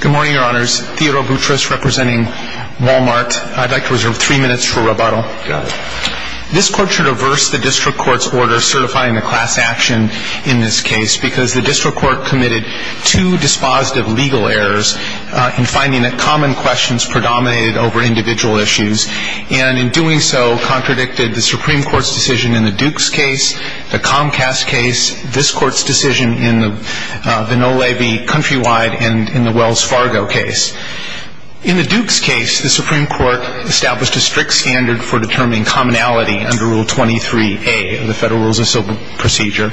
Good morning, Your Honors. Theodore Boutrous representing Wal-Mart. I'd like to reserve three minutes for rebuttal. This Court should averse the District Court's order certifying the class action in this case because the District Court committed two dispositive legal errors in finding that common questions predominated over individual issues and in doing so contradicted the Supreme Court's decision in the Dukes case, the Comcast case, this Court's decision in the Nolavi Countrywide and in the Wells Fargo case. In the Dukes case, the Supreme Court established a strict standard for determining commonality under Rule 23a of the Federal Rules of Civil Procedure.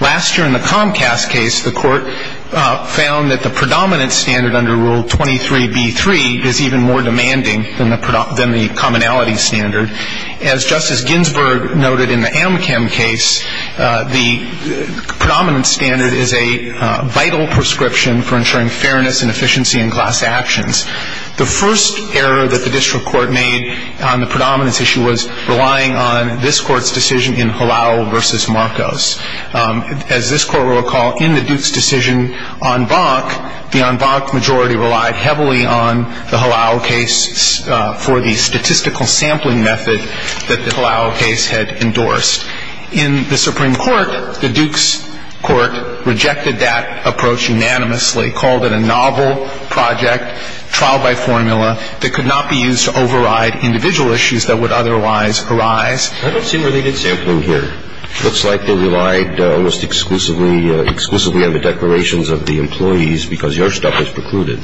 Last year in the Comcast case, the Court found that the predominant standard under Rule 23b-3 is even more demanding than the commonality standard. As Justice Ginsburg noted in the Amchem case, the predominant standard is a vital prescription for ensuring fairness and efficiency in class actions. The first error that the District Court made on the predominance issue was relying on this Court's decision in Halal v. Marcos. As this Court will recall, in the Dukes decision on Bach, the on Bach majority relied heavily on the Halal case for the statistical sampling method that the Halal case had endorsed. In the Supreme Court, the Dukes Court rejected that approach unanimously, called it a novel project, trial by formula, that could not be used to override individual issues that would otherwise arise. I don't see related sampling here. It looks like they relied almost exclusively on the declarations of the employees because your stuff was precluded.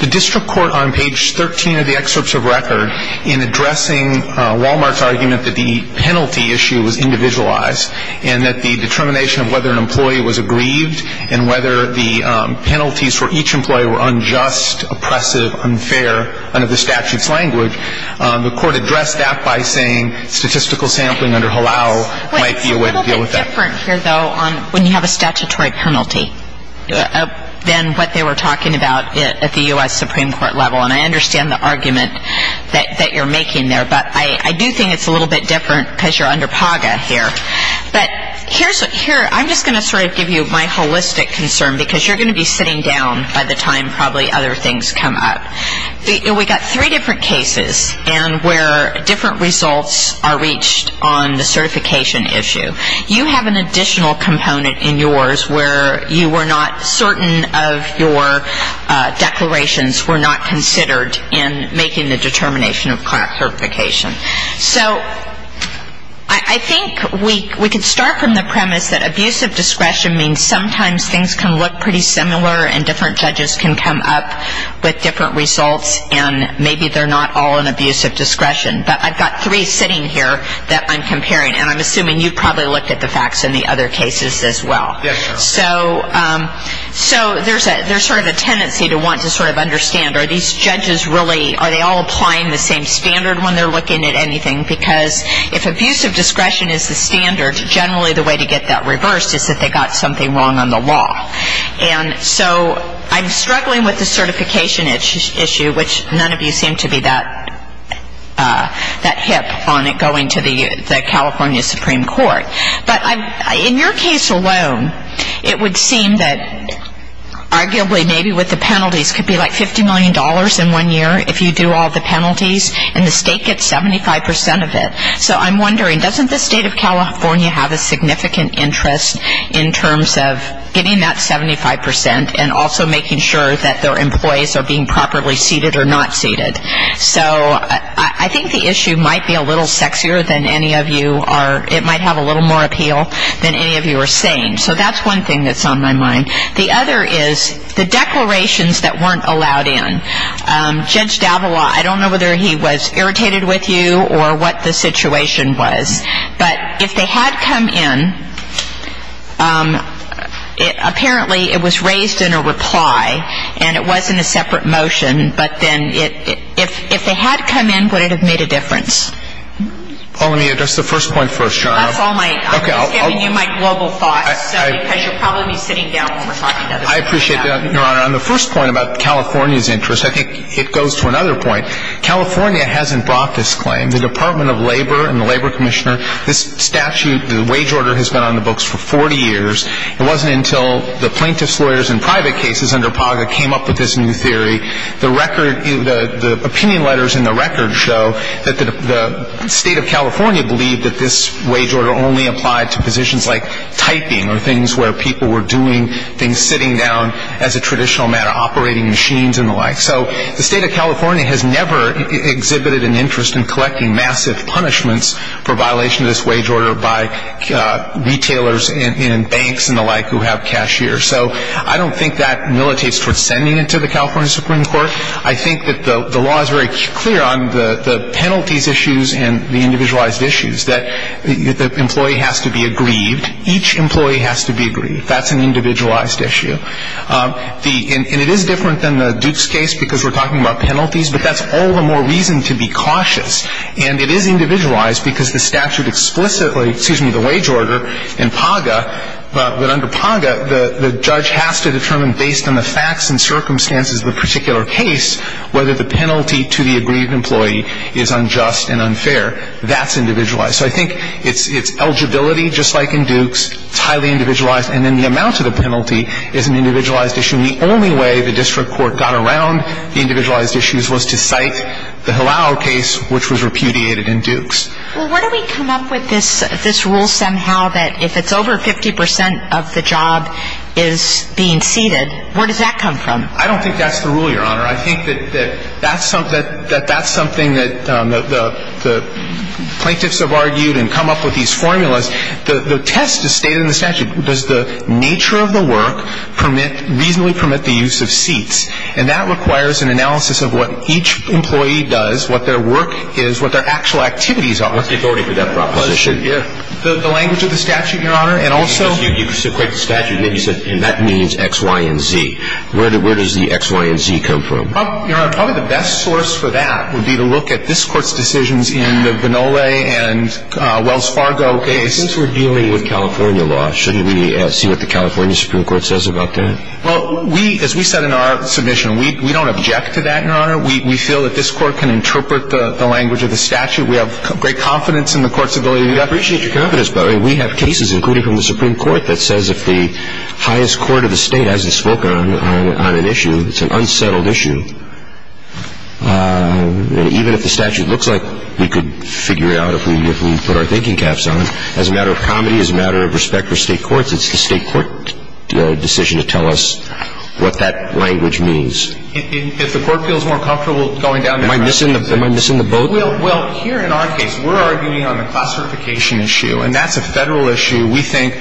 The District Court, on page 13 of the excerpts of record, in addressing Wal-Mart's argument that the penalty issue was individualized and that the determination of whether an employee was aggrieved and whether the penalties for each employee were unjust, oppressive, unfair, under the statute's language, the Court addressed that by saying statistical sampling under Halal might be a way to deal with that. It's a little bit different here, though, when you have a statutory penalty than what they were talking about at the U.S. Supreme Court level. And I understand the argument that you're making there, but I do think it's a little bit different because you're under PAGA here. But here's what ‑‑ here, I'm just going to sort of give you my holistic concern because you're going to be sitting down by the time probably other things come up. We've got three different cases and where different results are reached on the certification issue. You have an additional component in yours where you were not certain of your declarations were not considered in making the determination of clerk certification. So I think we could start from the premise that abusive discretion means sometimes things can look pretty similar and different judges can come up with different results and maybe they're not all in abusive discretion. But I've got three sitting here that I'm comparing, and I'm assuming you've probably looked at the facts in the other cases as well. So there's sort of a tendency to want to sort of understand, are these judges really, are they all applying the same standard when they're looking at anything? Because if abusive discretion is the standard, generally the way to get that reversed is that they got something wrong on the law. And so I'm struggling with the certification issue, which none of you seem to be that hip on it going to the California Supreme Court. But in your case alone, it would seem that arguably maybe with the penalties, it could be like $50 million in one year if you do all the penalties, and the state gets 75 percent of it. So I'm wondering, doesn't the state of California have a significant interest in terms of getting that 75 percent and also making sure that their employees are being properly seated or not seated? So I think the issue might be a little sexier than any of you are, it might have a little more appeal than any of you are saying. So that's one thing that's on my mind. The other is the declarations that weren't allowed in. Judge Davila, I don't know whether he was irritated with you or what the situation was, but if they had come in, apparently it was raised in a reply and it wasn't a separate motion, but then if they had come in, would it have made a difference? Well, let me address the first point first, Your Honor. That's all my ñ I'm just giving you my global thoughts, because you'll probably be sitting down when we're talking about it. I appreciate that, Your Honor. On the first point about California's interest, I think it goes to another point. California hasn't brought this claim. The Department of Labor and the Labor Commissioner, this statute, the wage order has been on the books for 40 years. It wasn't until the plaintiff's lawyers in private cases under PAGA came up with this new theory. The record ñ the opinion letters in the record show that the State of California believed that this wage order only applied to positions like typing or things where people were doing things sitting down as a traditional matter, operating machines and the like. So the State of California has never exhibited an interest in collecting massive punishments for violation of this wage order by retailers and banks and the like who have cashiers. So I don't think that militates towards sending it to the California Supreme Court. I think that the law is very clear on the penalties issues and the individualized issues, that the employee has to be aggrieved. Each employee has to be aggrieved. That's an individualized issue. And it is different than the Dukes case because we're talking about penalties, but that's all the more reason to be cautious. And it is individualized because the statute explicitly ñ excuse me ñ the wage order in PAGA, but under PAGA, the judge has to determine based on the facts and circumstances of the particular case whether the penalty to the aggrieved employee is unjust and unfair. That's individualized. So I think it's eligibility, just like in Dukes. It's highly individualized. And then the amount of the penalty is an individualized issue. And the only way the district court got around the individualized issues was to cite the Hillauer case, which was repudiated in Dukes. Well, where do we come up with this rule somehow that if it's over 50 percent of the job is being ceded, where does that come from? I don't think that's the rule, Your Honor. I think that that's something that the plaintiffs have argued and come up with these formulas. The test is stated in the statute. Does the nature of the work permit ñ reasonably permit the use of seats? And that requires an analysis of what each employee does, what their work is, what their actual activities are. What's the authority for that proposition? The language of the statute, Your Honor, and also ñ Because you equate the statute, and then you said, and that means X, Y, and Z. Where does the X, Y, and Z come from? Your Honor, probably the best source for that would be to look at this Court's decisions in the Vinole and Wells Fargo case. Since we're dealing with California law, shouldn't we see what the California Supreme Court says about that? Well, we ñ as we said in our submission, we don't object to that, Your Honor. We feel that this Court can interpret the language of the statute. We have great confidence in the Court's ability to do that. I appreciate your confidence, but we have cases, including from the Supreme Court, that says if the highest court of the state hasn't spoken on an issue, it's an unsettled issue. Even if the statute looks like we could figure it out if we put our thinking caps on it, as a matter of comedy, as a matter of respect for state courts, it's the state court decision to tell us what that language means. If the Court feels more comfortable going down that route ñ Am I missing the boat? Well, here in our case, we're arguing on the classification issue, and that's a Federal issue. We think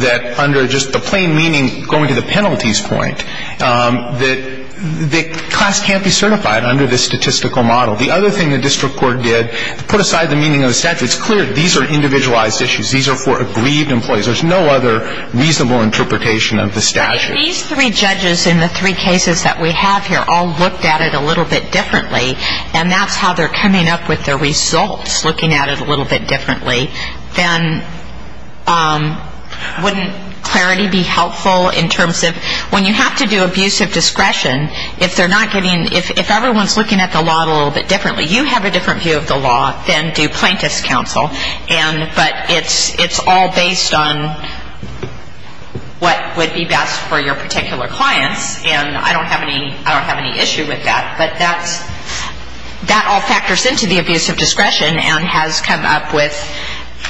that under just the plain meaning, going to the penalties point, that class can't be certified under this statistical model. The other thing the district court did to put aside the meaning of the statute, it's clear these are individualized issues. These are for aggrieved employees. There's no other reasonable interpretation of the statute. But if these three judges in the three cases that we have here all looked at it a little bit differently, and that's how they're coming up with their results, looking at it a little bit differently, then wouldn't clarity be helpful in terms of ñ I mean, you have to do abuse of discretion if they're not getting ñ if everyone's looking at the law a little bit differently. You have a different view of the law than do plaintiff's counsel, but it's all based on what would be best for your particular clients, and I don't have any issue with that. But that all factors into the abuse of discretion and has come up with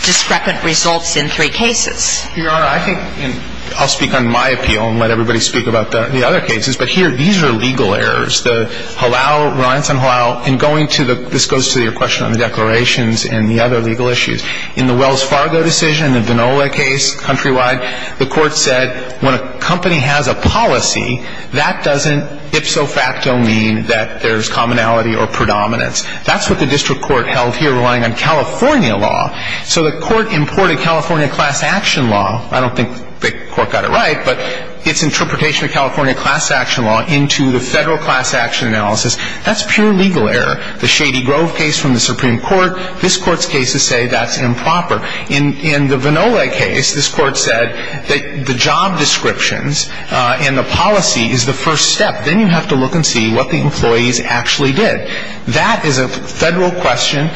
discrepant results in three cases. Yes. Your Honor, I think ñ and I'll speak on my appeal and let everybody speak about the other cases. But here, these are legal errors. The Halal, reliance on Halal, and going to the ñ this goes to your question on the declarations and the other legal issues. In the Wells Fargo decision, the Vinola case, countrywide, the court said when a company has a policy, that doesn't ipso facto mean that there's commonality or predominance. That's what the district court held here relying on California law. So the court imported California class action law. I don't think the court got it right, but it's interpretation of California class action law into the federal class action analysis. That's pure legal error. The Shady Grove case from the Supreme Court, this Court's cases say that's improper. In the Vinola case, this Court said that the job descriptions and the policy is the first step. Then you have to look and see what the employees actually did. That is a federal question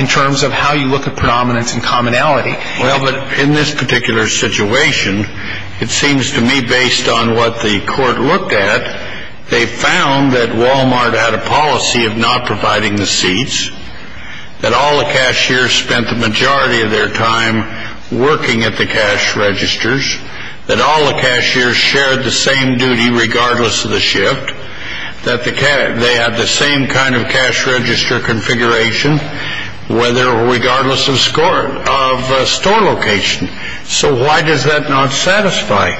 in terms of how you look at predominance and commonality. Well, but in this particular situation, it seems to me based on what the court looked at, they found that Walmart had a policy of not providing the seats, that all the cashiers spent the majority of their time working at the cash registers, that all the cashiers shared the same duty regardless of the shift, that they had the same kind of cash register configuration whether or regardless of store location. So why does that not satisfy?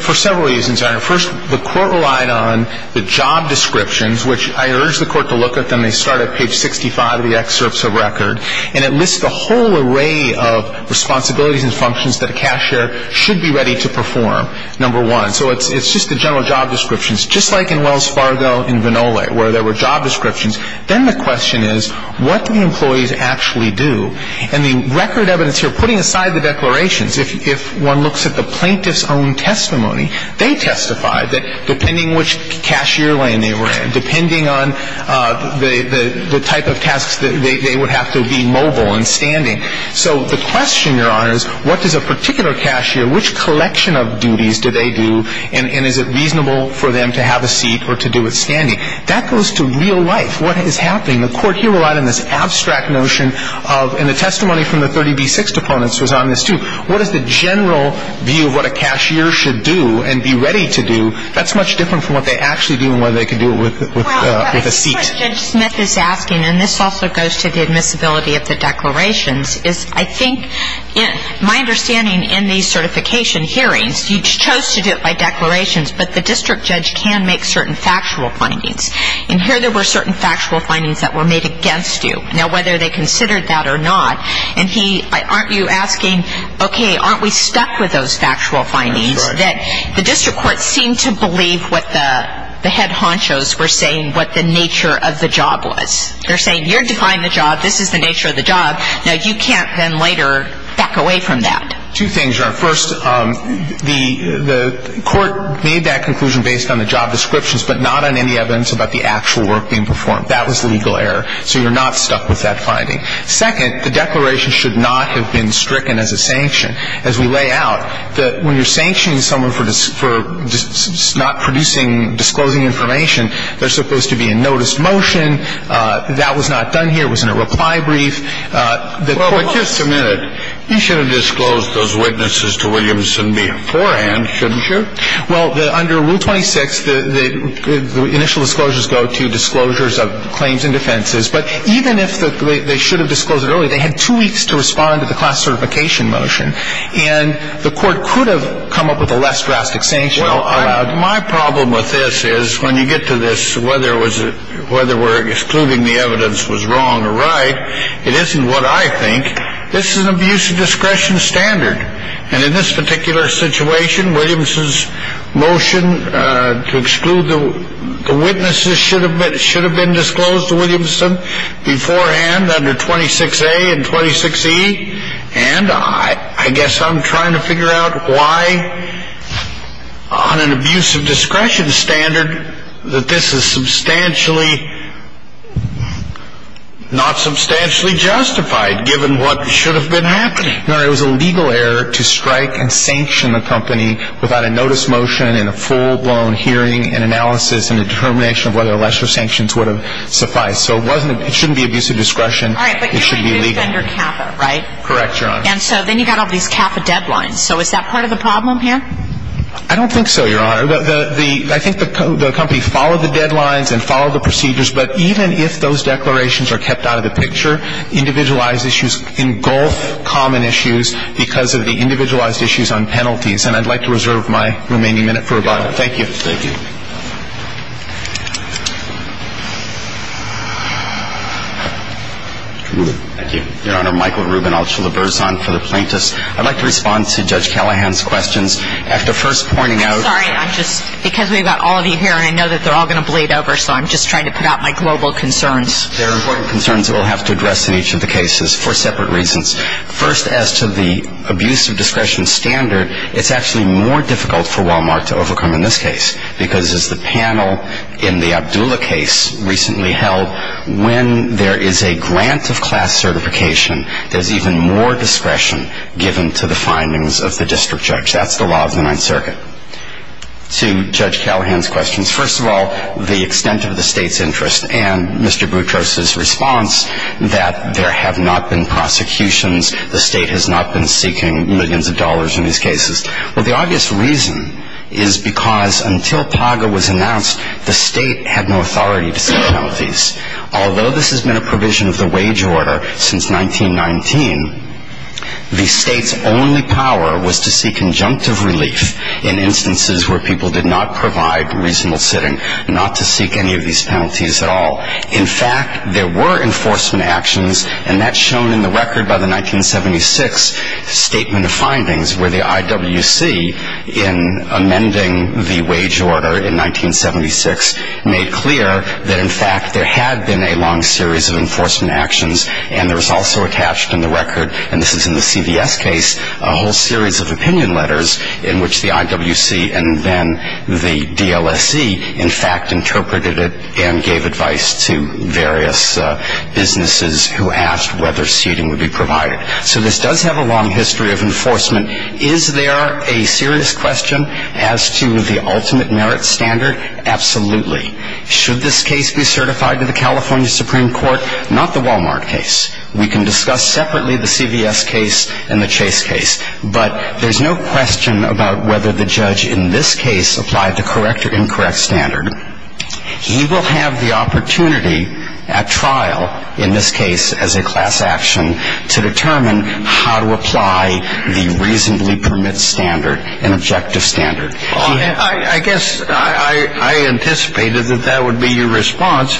For several reasons. First, the court relied on the job descriptions, which I urge the court to look at them. They start at page 65 of the excerpts of record, and it lists a whole array of responsibilities and functions that a cashier should be ready to perform, number one. So it's just the general job descriptions. Just like in Wells Fargo and Vinola where there were job descriptions, then the question is what do the employees actually do? And the record evidence here, putting aside the declarations, if one looks at the plaintiff's own testimony, they testified that depending which cashier lane they were in, depending on the type of tasks that they would have to be mobile and standing. So the question, Your Honor, is what does a particular cashier, which collection of duties do they do, and is it reasonable for them to have a seat or to do it standing? That goes to real life. What is happening? The court here relied on this abstract notion of, and the testimony from the 30B6 opponents was on this too, what is the general view of what a cashier should do and be ready to do? That's much different from what they actually do and what they could do with a seat. Well, I think what Judge Smith is asking, and this also goes to the admissibility of the declarations, is I think my understanding in these certification hearings, you chose to do it by declarations, but the district judge can make certain factual findings. And here there were certain factual findings that were made against you. Now, whether they considered that or not, and he, aren't you asking, okay, aren't we stuck with those factual findings that the district court seemed to believe what the head honchos were saying, what the nature of the job was. They're saying you're defying the job. This is the nature of the job. Now, you can't then later back away from that. Two things, Your Honor. First, the court made that conclusion based on the job descriptions, but not on any evidence about the actual work being performed. That was legal error. So you're not stuck with that finding. Second, the declaration should not have been stricken as a sanction. As we lay out, when you're sanctioning someone for not producing, disclosing information, there's supposed to be a notice motion. That was not done here. It was in a reply brief. Well, but just a minute. You should have disclosed those witnesses to Williamson beforehand, shouldn't you? Well, under Rule 26, the initial disclosures go to disclosures of claims and defenses. But even if they should have disclosed it earlier, they had two weeks to respond to the class certification motion. And the court could have come up with a less drastic sanction. Well, my problem with this is when you get to this, whether we're excluding the evidence was wrong or right, it isn't what I think. This is an abuse of discretion standard. And in this particular situation, Williamson's motion to exclude the witnesses should have been disclosed to Williamson beforehand under 26A and 26E. And I guess I'm trying to figure out why, on an abuse of discretion standard, that this is substantially not substantially justified, given what should have been happening. No, it was a legal error to strike and sanction a company without a notice motion and a full-blown hearing and analysis and a determination of whether lesser sanctions would have sufficed. So it shouldn't be abuse of discretion. All right. Correct, Your Honor. And so then you've got all these CAFA deadlines. So is that part of the problem here? I don't think so, Your Honor. I think the company followed the deadlines and followed the procedures. But even if those declarations are kept out of the picture, individualized issues engulf common issues because of the individualized issues on penalties. And I'd like to reserve my remaining minute for rebuttal. Thank you. Thank you. Thank you. Your Honor, Michael Rubin, Alchula-Berzon for the plaintiffs. I'd like to respond to Judge Callahan's questions. After first pointing out ---- I'm sorry. I'm just ---- because we've got all of you here and I know that they're all going to bleed over, so I'm just trying to put out my global concerns. There are important concerns that we'll have to address in each of the cases for separate reasons. First, as to the abuse of discretion standard, it's actually more difficult for Walmart to overcome in this case because, as the panel in the Abdullah case recently held, when there is a grant of class certification, there's even more discretion given to the findings of the district judge. That's the law of the Ninth Circuit. To Judge Callahan's questions, first of all, the extent of the state's interest and Mr. Boutros' response that there have not been prosecutions, the state has not been seeking millions of dollars in these cases. Well, the obvious reason is because until PAGA was announced, the state had no authority to seek penalties. Although this has been a provision of the wage order since 1919, the state's only power was to seek conjunctive relief in instances where people did not provide reasonable sitting, not to seek any of these penalties at all. In fact, there were enforcement actions, and that's shown in the record by the 1976 statement of findings where the IWC, in amending the wage order in 1976, made clear that, in fact, there had been a long series of enforcement actions, and there was also attached in the record, and this is in the CVS case, a whole series of opinion letters in which the IWC and then the DLSC, in fact, interpreted it and gave advice to various businesses who asked whether seating would be provided. So this does have a long history of enforcement. Is there a serious question as to the ultimate merit standard? Absolutely. Should this case be certified to the California Supreme Court? Not the Walmart case. We can discuss separately the CVS case and the Chase case, but there's no question about whether the judge in this case applied the correct or incorrect standard. He will have the opportunity at trial, in this case as a class action, to determine how to apply the reasonably permit standard, an objective standard. I guess I anticipated that that would be your response.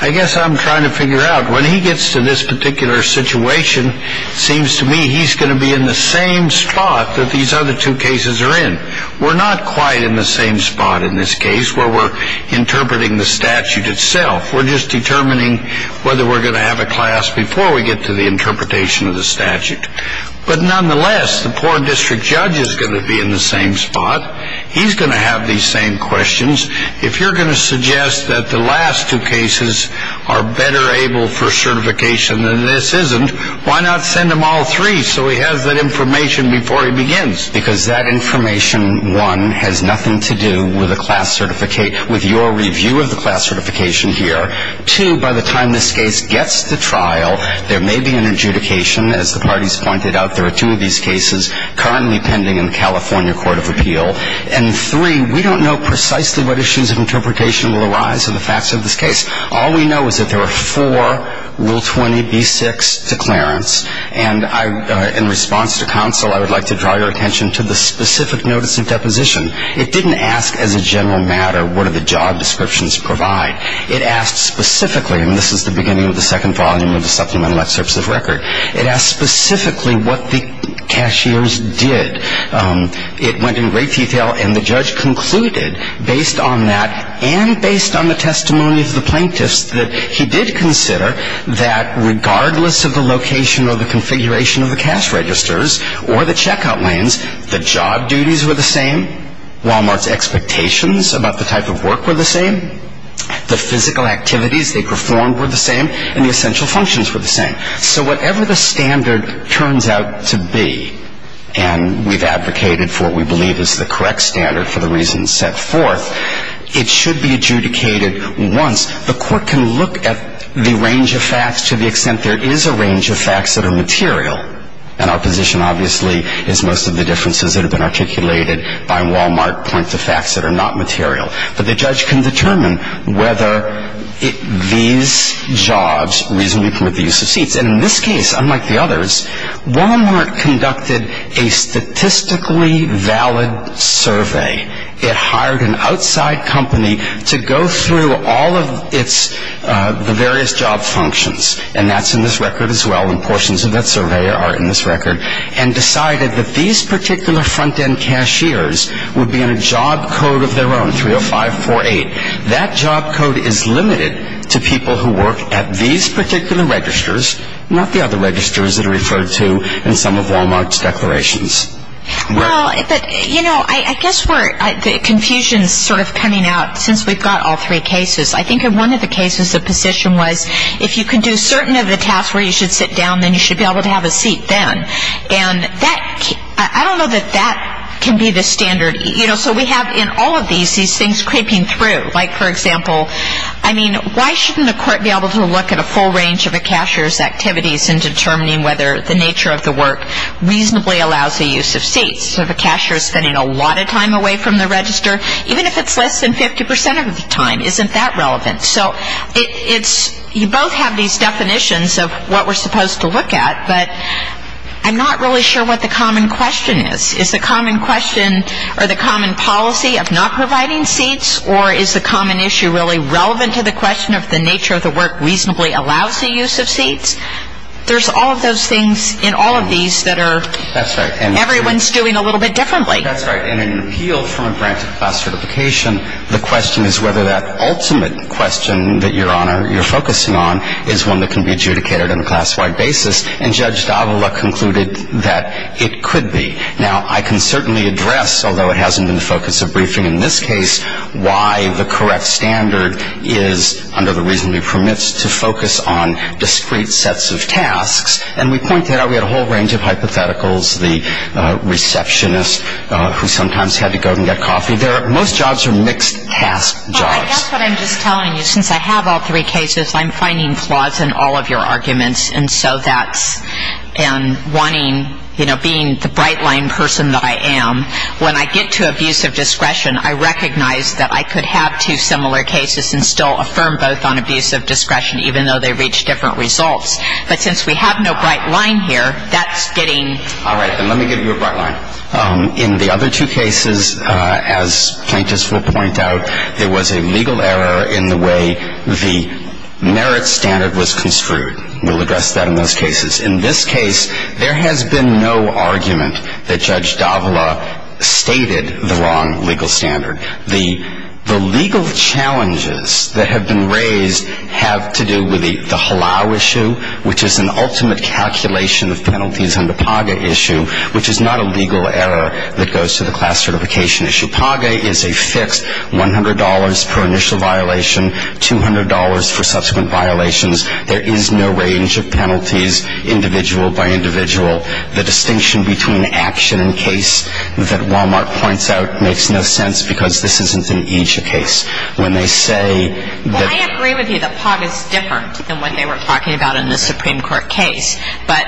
I guess I'm trying to figure out, when he gets to this particular situation, it seems to me he's going to be in the same spot that these other two cases are in. We're not quite in the same spot in this case where we're interpreting the statute itself. We're just determining whether we're going to have a class before we get to the interpretation of the statute. But nonetheless, the poor district judge is going to be in the same spot. He's going to have these same questions. If you're going to suggest that the last two cases are better able for certification than this isn't, why not send them all three so he has that information before he begins? Because that information, one, has nothing to do with a class certificate, with your review of the class certification here. Two, by the time this case gets to trial, there may be an adjudication. As the parties pointed out, there are two of these cases currently pending in the California Court of Appeal. And three, we don't know precisely what issues of interpretation will arise in the facts of this case. All we know is that there are four Rule 20b-6 declarants. And in response to counsel, I would like to draw your attention to the specific notice of deposition. It didn't ask, as a general matter, what do the job descriptions provide. It asked specifically, and this is the beginning of the second volume of the supplemental excerpts of record, it asked specifically what the cashiers did. It went in great detail, and the judge concluded, based on that and based on the testimony of the plaintiffs, that he did consider that regardless of the location or the configuration of the cash registers or the checkout lanes, the job duties were the same, Walmart's expectations about the type of work were the same, the physical activities they performed were the same, and the essential functions were the same. So whatever the standard turns out to be, and we've advocated for what we believe is the correct standard for the reasons set forth, it should be adjudicated once. The court can look at the range of facts to the extent there is a range of facts that are material. And our position, obviously, is most of the differences that have been articulated by Walmart point to facts that are not material. But the judge can determine whether these jobs reasonably permit the use of seats. And in this case, unlike the others, Walmart conducted a statistically valid survey. It hired an outside company to go through all of the various job functions, and that's in this record as well, and portions of that survey are in this record, and decided that these particular front-end cashiers would be on a job code of their own, 30548. That job code is limited to people who work at these particular registers, not the other registers that are referred to in some of Walmart's declarations. Well, but, you know, I guess we're, the confusion is sort of coming out since we've got all three cases. I think in one of the cases the position was if you can do certain of the tasks where you should sit down, then you should be able to have a seat then. And that, I don't know that that can be the standard. You know, so we have in all of these, these things creeping through. Like, for example, I mean, why shouldn't the court be able to look at a full range of a cashier's activities in determining whether the nature of the work reasonably allows the use of seats? So if a cashier is spending a lot of time away from the register, even if it's less than 50 percent of the time, isn't that relevant? So it's, you both have these definitions of what we're supposed to look at, but I'm not really sure what the common question is. Is the common question or the common policy of not providing seats, or is the common issue really relevant to the question of the nature of the work reasonably allows the use of seats? There's all of those things in all of these that are, everyone's doing a little bit differently. That's right. In an appeal from a grant of class certification, the question is whether that ultimate question that you're focusing on is one that can be adjudicated on a class-wide basis. And Judge Davila concluded that it could be. Now, I can certainly address, although it hasn't been the focus of briefing in this case, why the correct standard is under the reason we permit to focus on discrete sets of tasks. And we pointed out we had a whole range of hypotheticals. The receptionist who sometimes had to go and get coffee. Most jobs are mixed-task jobs. Well, I guess what I'm just telling you, since I have all three cases, I'm finding flaws in all of your arguments. And so that's, and wanting, you know, being the bright-line person that I am, when I get to abuse of discretion, I recognize that I could have two similar cases and still affirm both on abuse of discretion, even though they reach different results. But since we have no bright line here, that's getting. All right. Then let me give you a bright line. In the other two cases, as plaintiffs will point out, there was a legal error in the way the merit standard was construed. We'll address that in those cases. In this case, there has been no argument that Judge Davila stated the wrong legal standard. The legal challenges that have been raised have to do with the halal issue, which is an ultimate calculation of penalties under PAGA issue, which is not a legal error that goes to the class certification issue. PAGA is a fixed $100 per initial violation, $200 for subsequent violations. There is no range of penalties, individual by individual. The distinction between action and case that Wal-Mart points out makes no sense, because this isn't an EJIA case. When they say that ---- Well, I agree with you that PAGA is different than what they were talking about in the Supreme Court case. But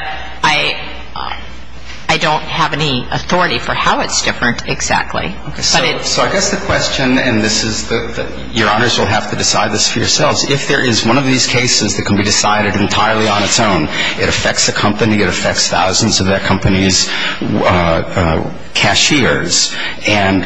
I don't have any authority for how it's different exactly. But it's ---- So I guess the question, and this is the, Your Honors will have to decide this for yourselves. If there is one of these cases that can be decided entirely on its own, it affects a company, it affects thousands of that company's cashiers, and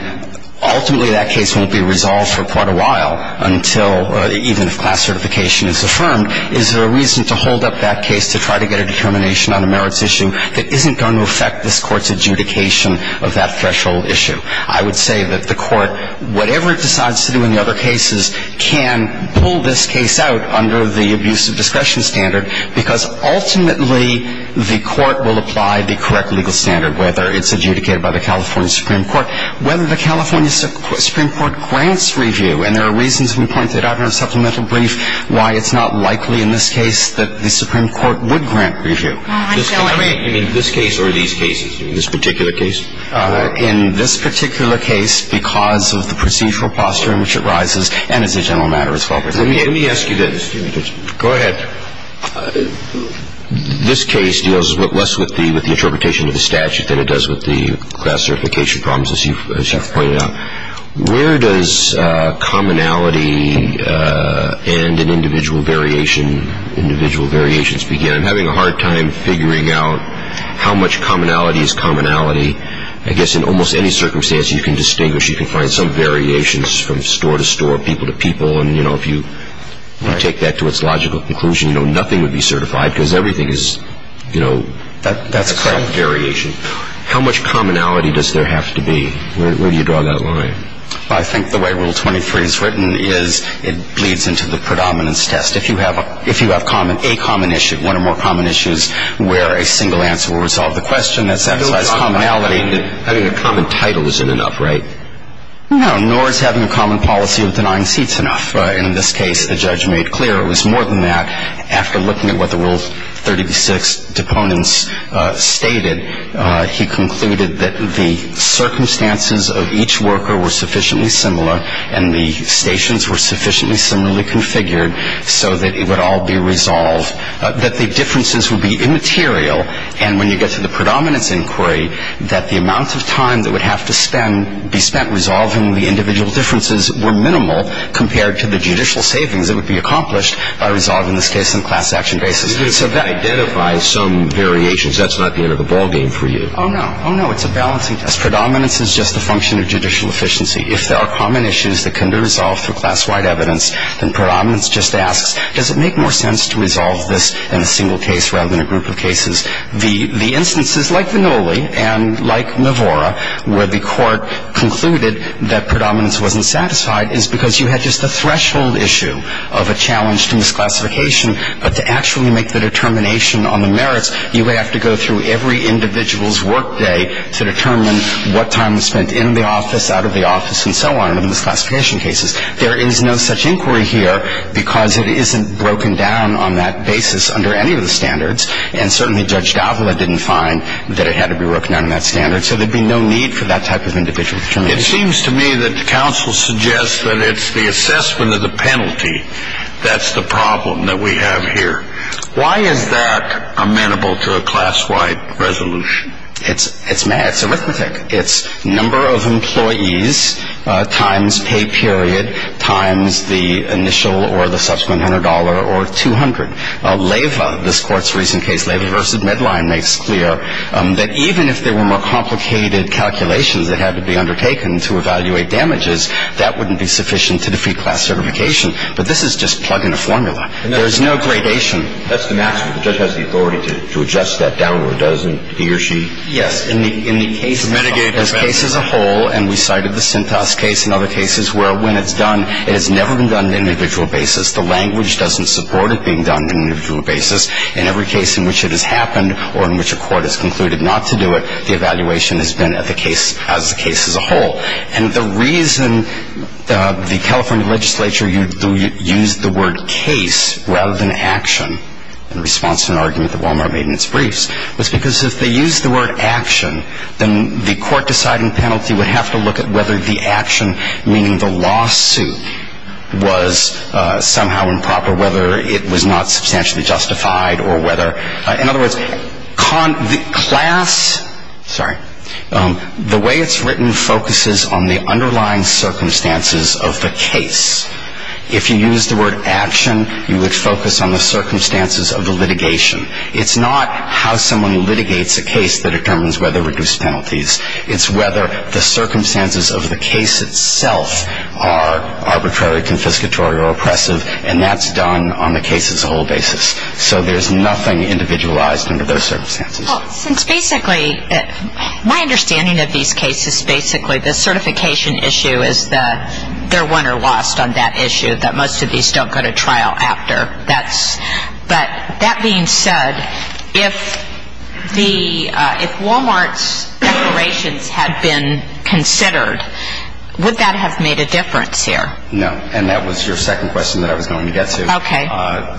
ultimately that case won't be resolved for quite a while until even if class certification is affirmed, is there a reason to hold up that case to try to get a determination on a merits issue that isn't going to affect this Court's adjudication of that threshold issue? I would say that the Court, whatever it decides to do in the other cases, can pull this case out under the abuse of discretion standard, because ultimately the Court will apply the correct legal standard, whether it's adjudicated by the California Supreme Court, whether the California Supreme Court grants review. And there are reasons we pointed out in our supplemental brief why it's not likely in this case that the Supreme Court would grant review. I mean, in this case or these cases, in this particular case? In this particular case, because of the procedural posture in which it rises, and as a general matter as well. Let me ask you this. Go ahead. This case deals less with the interpretation of the statute than it does with the class certification problems, as you've pointed out. Where does commonality and an individual variation, individual variations begin? I'm having a hard time figuring out how much commonality is commonality. I guess in almost any circumstance you can distinguish, you can find some variations from store to store, people to people. And, you know, if you take that to its logical conclusion, nothing would be certified because everything is, you know, a variation. That's correct. How much commonality does there have to be? Where do you draw that line? I think the way Rule 23 is written is it bleeds into the predominance test. If you have a common issue, one or more common issues, where a single answer will resolve the question that satisfies commonality. Having a common title isn't enough, right? No, nor is having a common policy of denying seats enough. And in this case, the judge made clear it was more than that. After looking at what the Rule 36 deponents stated, he concluded that the circumstances of each worker were sufficiently similar and the stations were sufficiently similarly configured so that it would all be resolved, that the differences would be immaterial. And when you get to the predominance inquiry, that the amount of time that would have to be spent resolving the individual differences were minimal compared to the judicial savings that would be accomplished by resolving this case on a class action basis. So that identifies some variations. That's not the end of the ballgame for you. Oh, no. Oh, no. It's a balancing test. Predominance is just a function of judicial efficiency. If there are common issues that can be resolved through class-wide evidence, then predominance just asks, does it make more sense to resolve this in a single case rather than a group of cases? The instances, like Vannulli and like Navora, where the court concluded that predominance wasn't satisfied is because you had just a threshold issue of a challenge to misclassification, but to actually make the determination on the merits, you have to go through every individual's workday to determine what time was spent in the office, out of the office, and so on, in the misclassification cases. There is no such inquiry here because it isn't broken down on that basis under any of the standards, and certainly Judge Davila didn't find that it had to be broken down in that standard, so there would be no need for that type of individual determination. It seems to me that the counsel suggests that it's the assessment of the penalty that's the problem that we have here. Why is that amenable to a class-wide resolution? It's arithmetic. It's number of employees times pay period times the initial or the subsequent $100 or $200. Leyva, this Court's recent case, Leyva v. Medline, makes clear that even if there were more complicated calculations that had to be undertaken to evaluate damages, that wouldn't be sufficient to defeat class certification. But this is just plug-in formula. There is no gradation. That's the maximum. The judge has the authority to adjust that down to a dozen, he or she. Yes. In the case as a whole, and we cited the Sintas case and other cases where when it's done, it has never been done on an individual basis. The language doesn't support it being done on an individual basis. In every case in which it has happened or in which a court has concluded not to do it, the evaluation has been as the case as a whole. And the reason the California legislature used the word case rather than action in response to an argument that Wal-Mart made in its briefs was because if they used the word action, then the court deciding penalty would have to look at whether the action, meaning the lawsuit, was somehow improper, whether it was not substantially justified or whether, in other words, class, sorry, the way it's written focuses on the underlying circumstances of the case. If you use the word action, you would focus on the circumstances of the litigation. It's not how someone litigates a case that determines whether to reduce penalties. It's whether the circumstances of the case itself are arbitrary, confiscatory, or oppressive, and that's done on the case as a whole basis. So there's nothing individualized under those circumstances. Well, since basically my understanding of these cases, basically the certification issue is that they're won or lost on that issue, that most of these don't go to trial after. But that being said, if Wal-Mart's declarations had been considered, would that have made a difference here? No, and that was your second question that I was going to get to. Okay.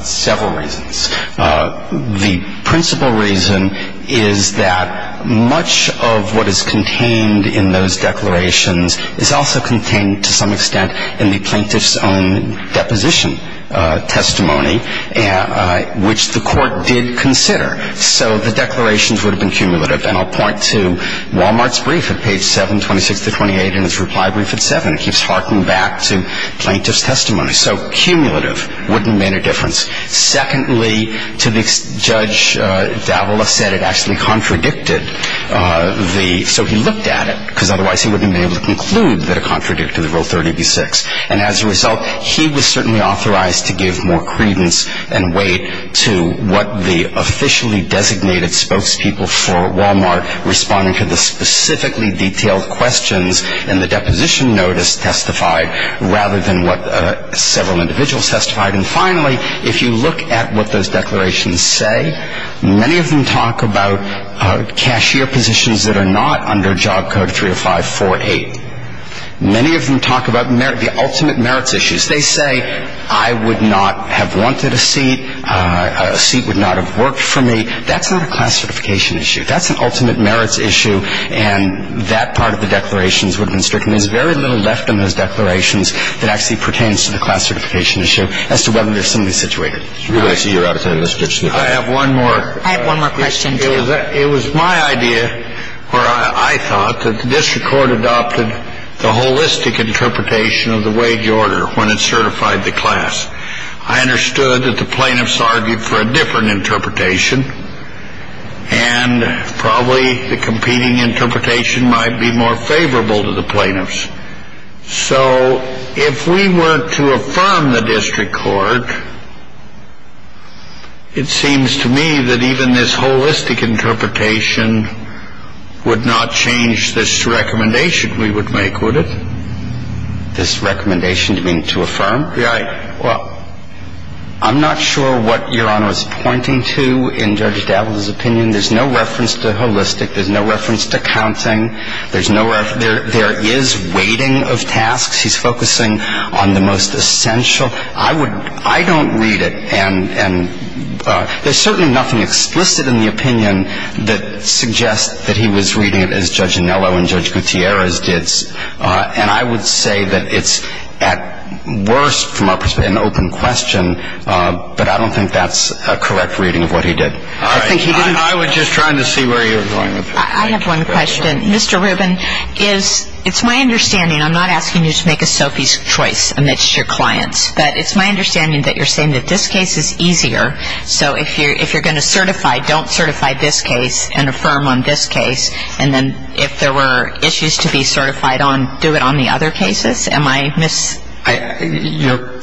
Several reasons. The principal reason is that much of what is contained in those declarations is also contained to some extent in the plaintiff's own deposition testimony, which the court did consider. So the declarations would have been cumulative. And I'll point to Wal-Mart's brief at page 7, 26 to 28, and its reply brief at 7. It keeps harking back to plaintiff's testimony. So cumulative wouldn't have made a difference. Secondly, Judge Davila said it actually contradicted the ‑‑ so he looked at it, because otherwise he wouldn't have been able to conclude that it contradicted the Rule 30b-6. And as a result, he was certainly authorized to give more credence and weight to what the officially designated spokespeople for Wal-Mart responding to the specifically detailed questions in the deposition notice testified, rather than what several individuals testified. And finally, if you look at what those declarations say, many of them talk about cashier positions that are not under Job Code 305‑48. Many of them talk about the ultimate merits issues. They say, I would not have wanted a seat. A seat would not have worked for me. That's not a class certification issue. That's an ultimate merits issue, and that part of the declarations would have been stricken. There's very little left in those declarations that actually pertains to the class certification issue as to whether there's somebody situated. I see you're out of time, Mr. Dixon. I have one more. I have one more question, too. It was my idea, or I thought, that the district court adopted the holistic interpretation of the wage order when it certified the class. I understood that the plaintiffs argued for a different interpretation, and probably the competing interpretation might be more favorable to the plaintiffs. So if we were to affirm the district court, it seems to me that even this holistic interpretation would not change this recommendation we would make, would it? This recommendation you mean to affirm? Right. Well, I'm not sure what Your Honor is pointing to in Judge Davis's opinion. There's no reference to holistic. There's no reference to counting. There is weighting of tasks. He's focusing on the most essential. I don't read it, and there's certainly nothing explicit in the opinion that suggests that he was reading it as Judge Anello and Judge Gutierrez did. And I would say that it's at worst, from our perspective, an open question, but I don't think that's a correct reading of what he did. All right. I was just trying to see where you were going with that. I have one question. Mr. Rubin, it's my understanding, I'm not asking you to make a Sophie's Choice amidst your clients, but it's my understanding that you're saying that this case is easier, so if you're going to certify, don't certify this case and affirm on this case, and then if there were issues to be certified on, do it on the other cases? Am I mis- You know,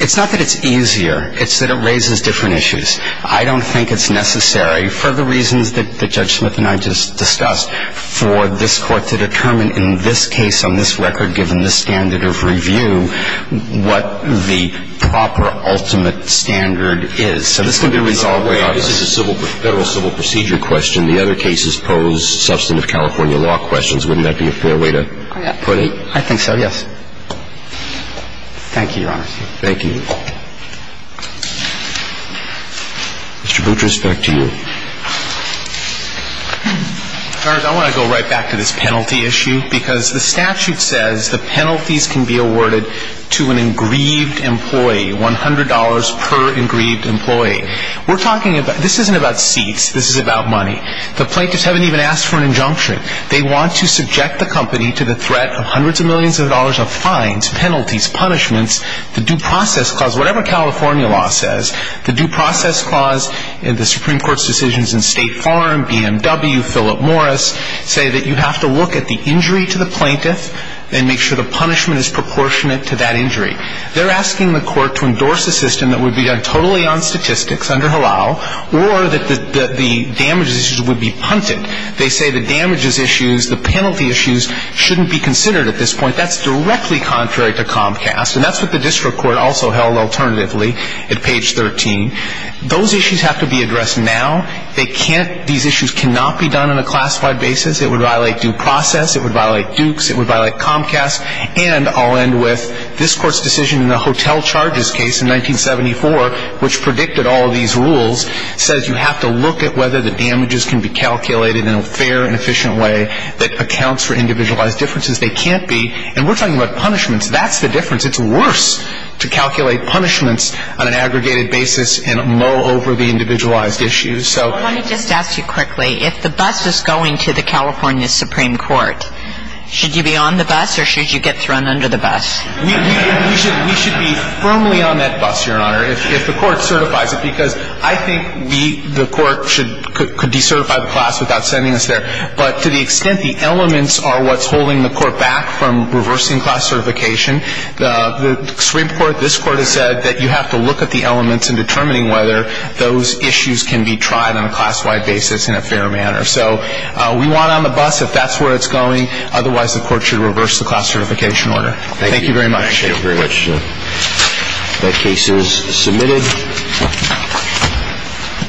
it's not that it's easier. It's that it raises different issues. I don't think it's necessary, for the reasons that Judge Smith and I just discussed, for this court to determine in this case on this record, given this standard of review, what the proper ultimate standard is. So this can be resolved by others. This is a federal civil procedure question. The other cases pose substantive California law questions. Wouldn't that be a fair way to put it? I think so, yes. Thank you, Your Honor. Thank you. Mr. Boutrous, back to you. Your Honor, I want to go right back to this penalty issue, because the statute says the penalties can be awarded to an engraved employee, $100 per engraved employee. We're talking about, this isn't about seats. This is about money. The plaintiffs haven't even asked for an injunction. They want to subject the company to the threat of hundreds of millions of dollars of fines, penalties, punishments. The due process clause, whatever California law says, the due process clause, the Supreme Court's decisions in State Farm, BMW, Philip Morris, say that you have to look at the injury to the plaintiff and make sure the punishment is proportionate to that injury. They're asking the court to endorse a system that would be done totally on statistics, or that the damages issues would be punted. They say the damages issues, the penalty issues, shouldn't be considered at this point. That's directly contrary to Comcast. And that's what the district court also held alternatively at page 13. Those issues have to be addressed now. They can't, these issues cannot be done on a classified basis. It would violate due process. It would violate Dukes. It would violate Comcast. And I'll end with this Court's decision in the hotel charges case in 1974, which predicted all of these rules, says you have to look at whether the damages can be calculated in a fair and efficient way that accounts for individualized differences. They can't be. And we're talking about punishments. That's the difference. It's worse to calculate punishments on an aggregated basis and mow over the individualized issues. Well, let me just ask you quickly. If the bus is going to the California Supreme Court, should you be on the bus or should you get thrown under the bus? We should be firmly on that bus, Your Honor, if the Court certifies it, because I think the Court could decertify the class without sending us there. But to the extent the elements are what's holding the Court back from reversing class certification, the Supreme Court, this Court has said that you have to look at the elements in determining whether those issues can be tried on a class-wide basis in a fair manner. So we want on the bus if that's where it's going. Otherwise, the Court should reverse the class certification order. Thank you very much. Thank you very much. That case is submitted.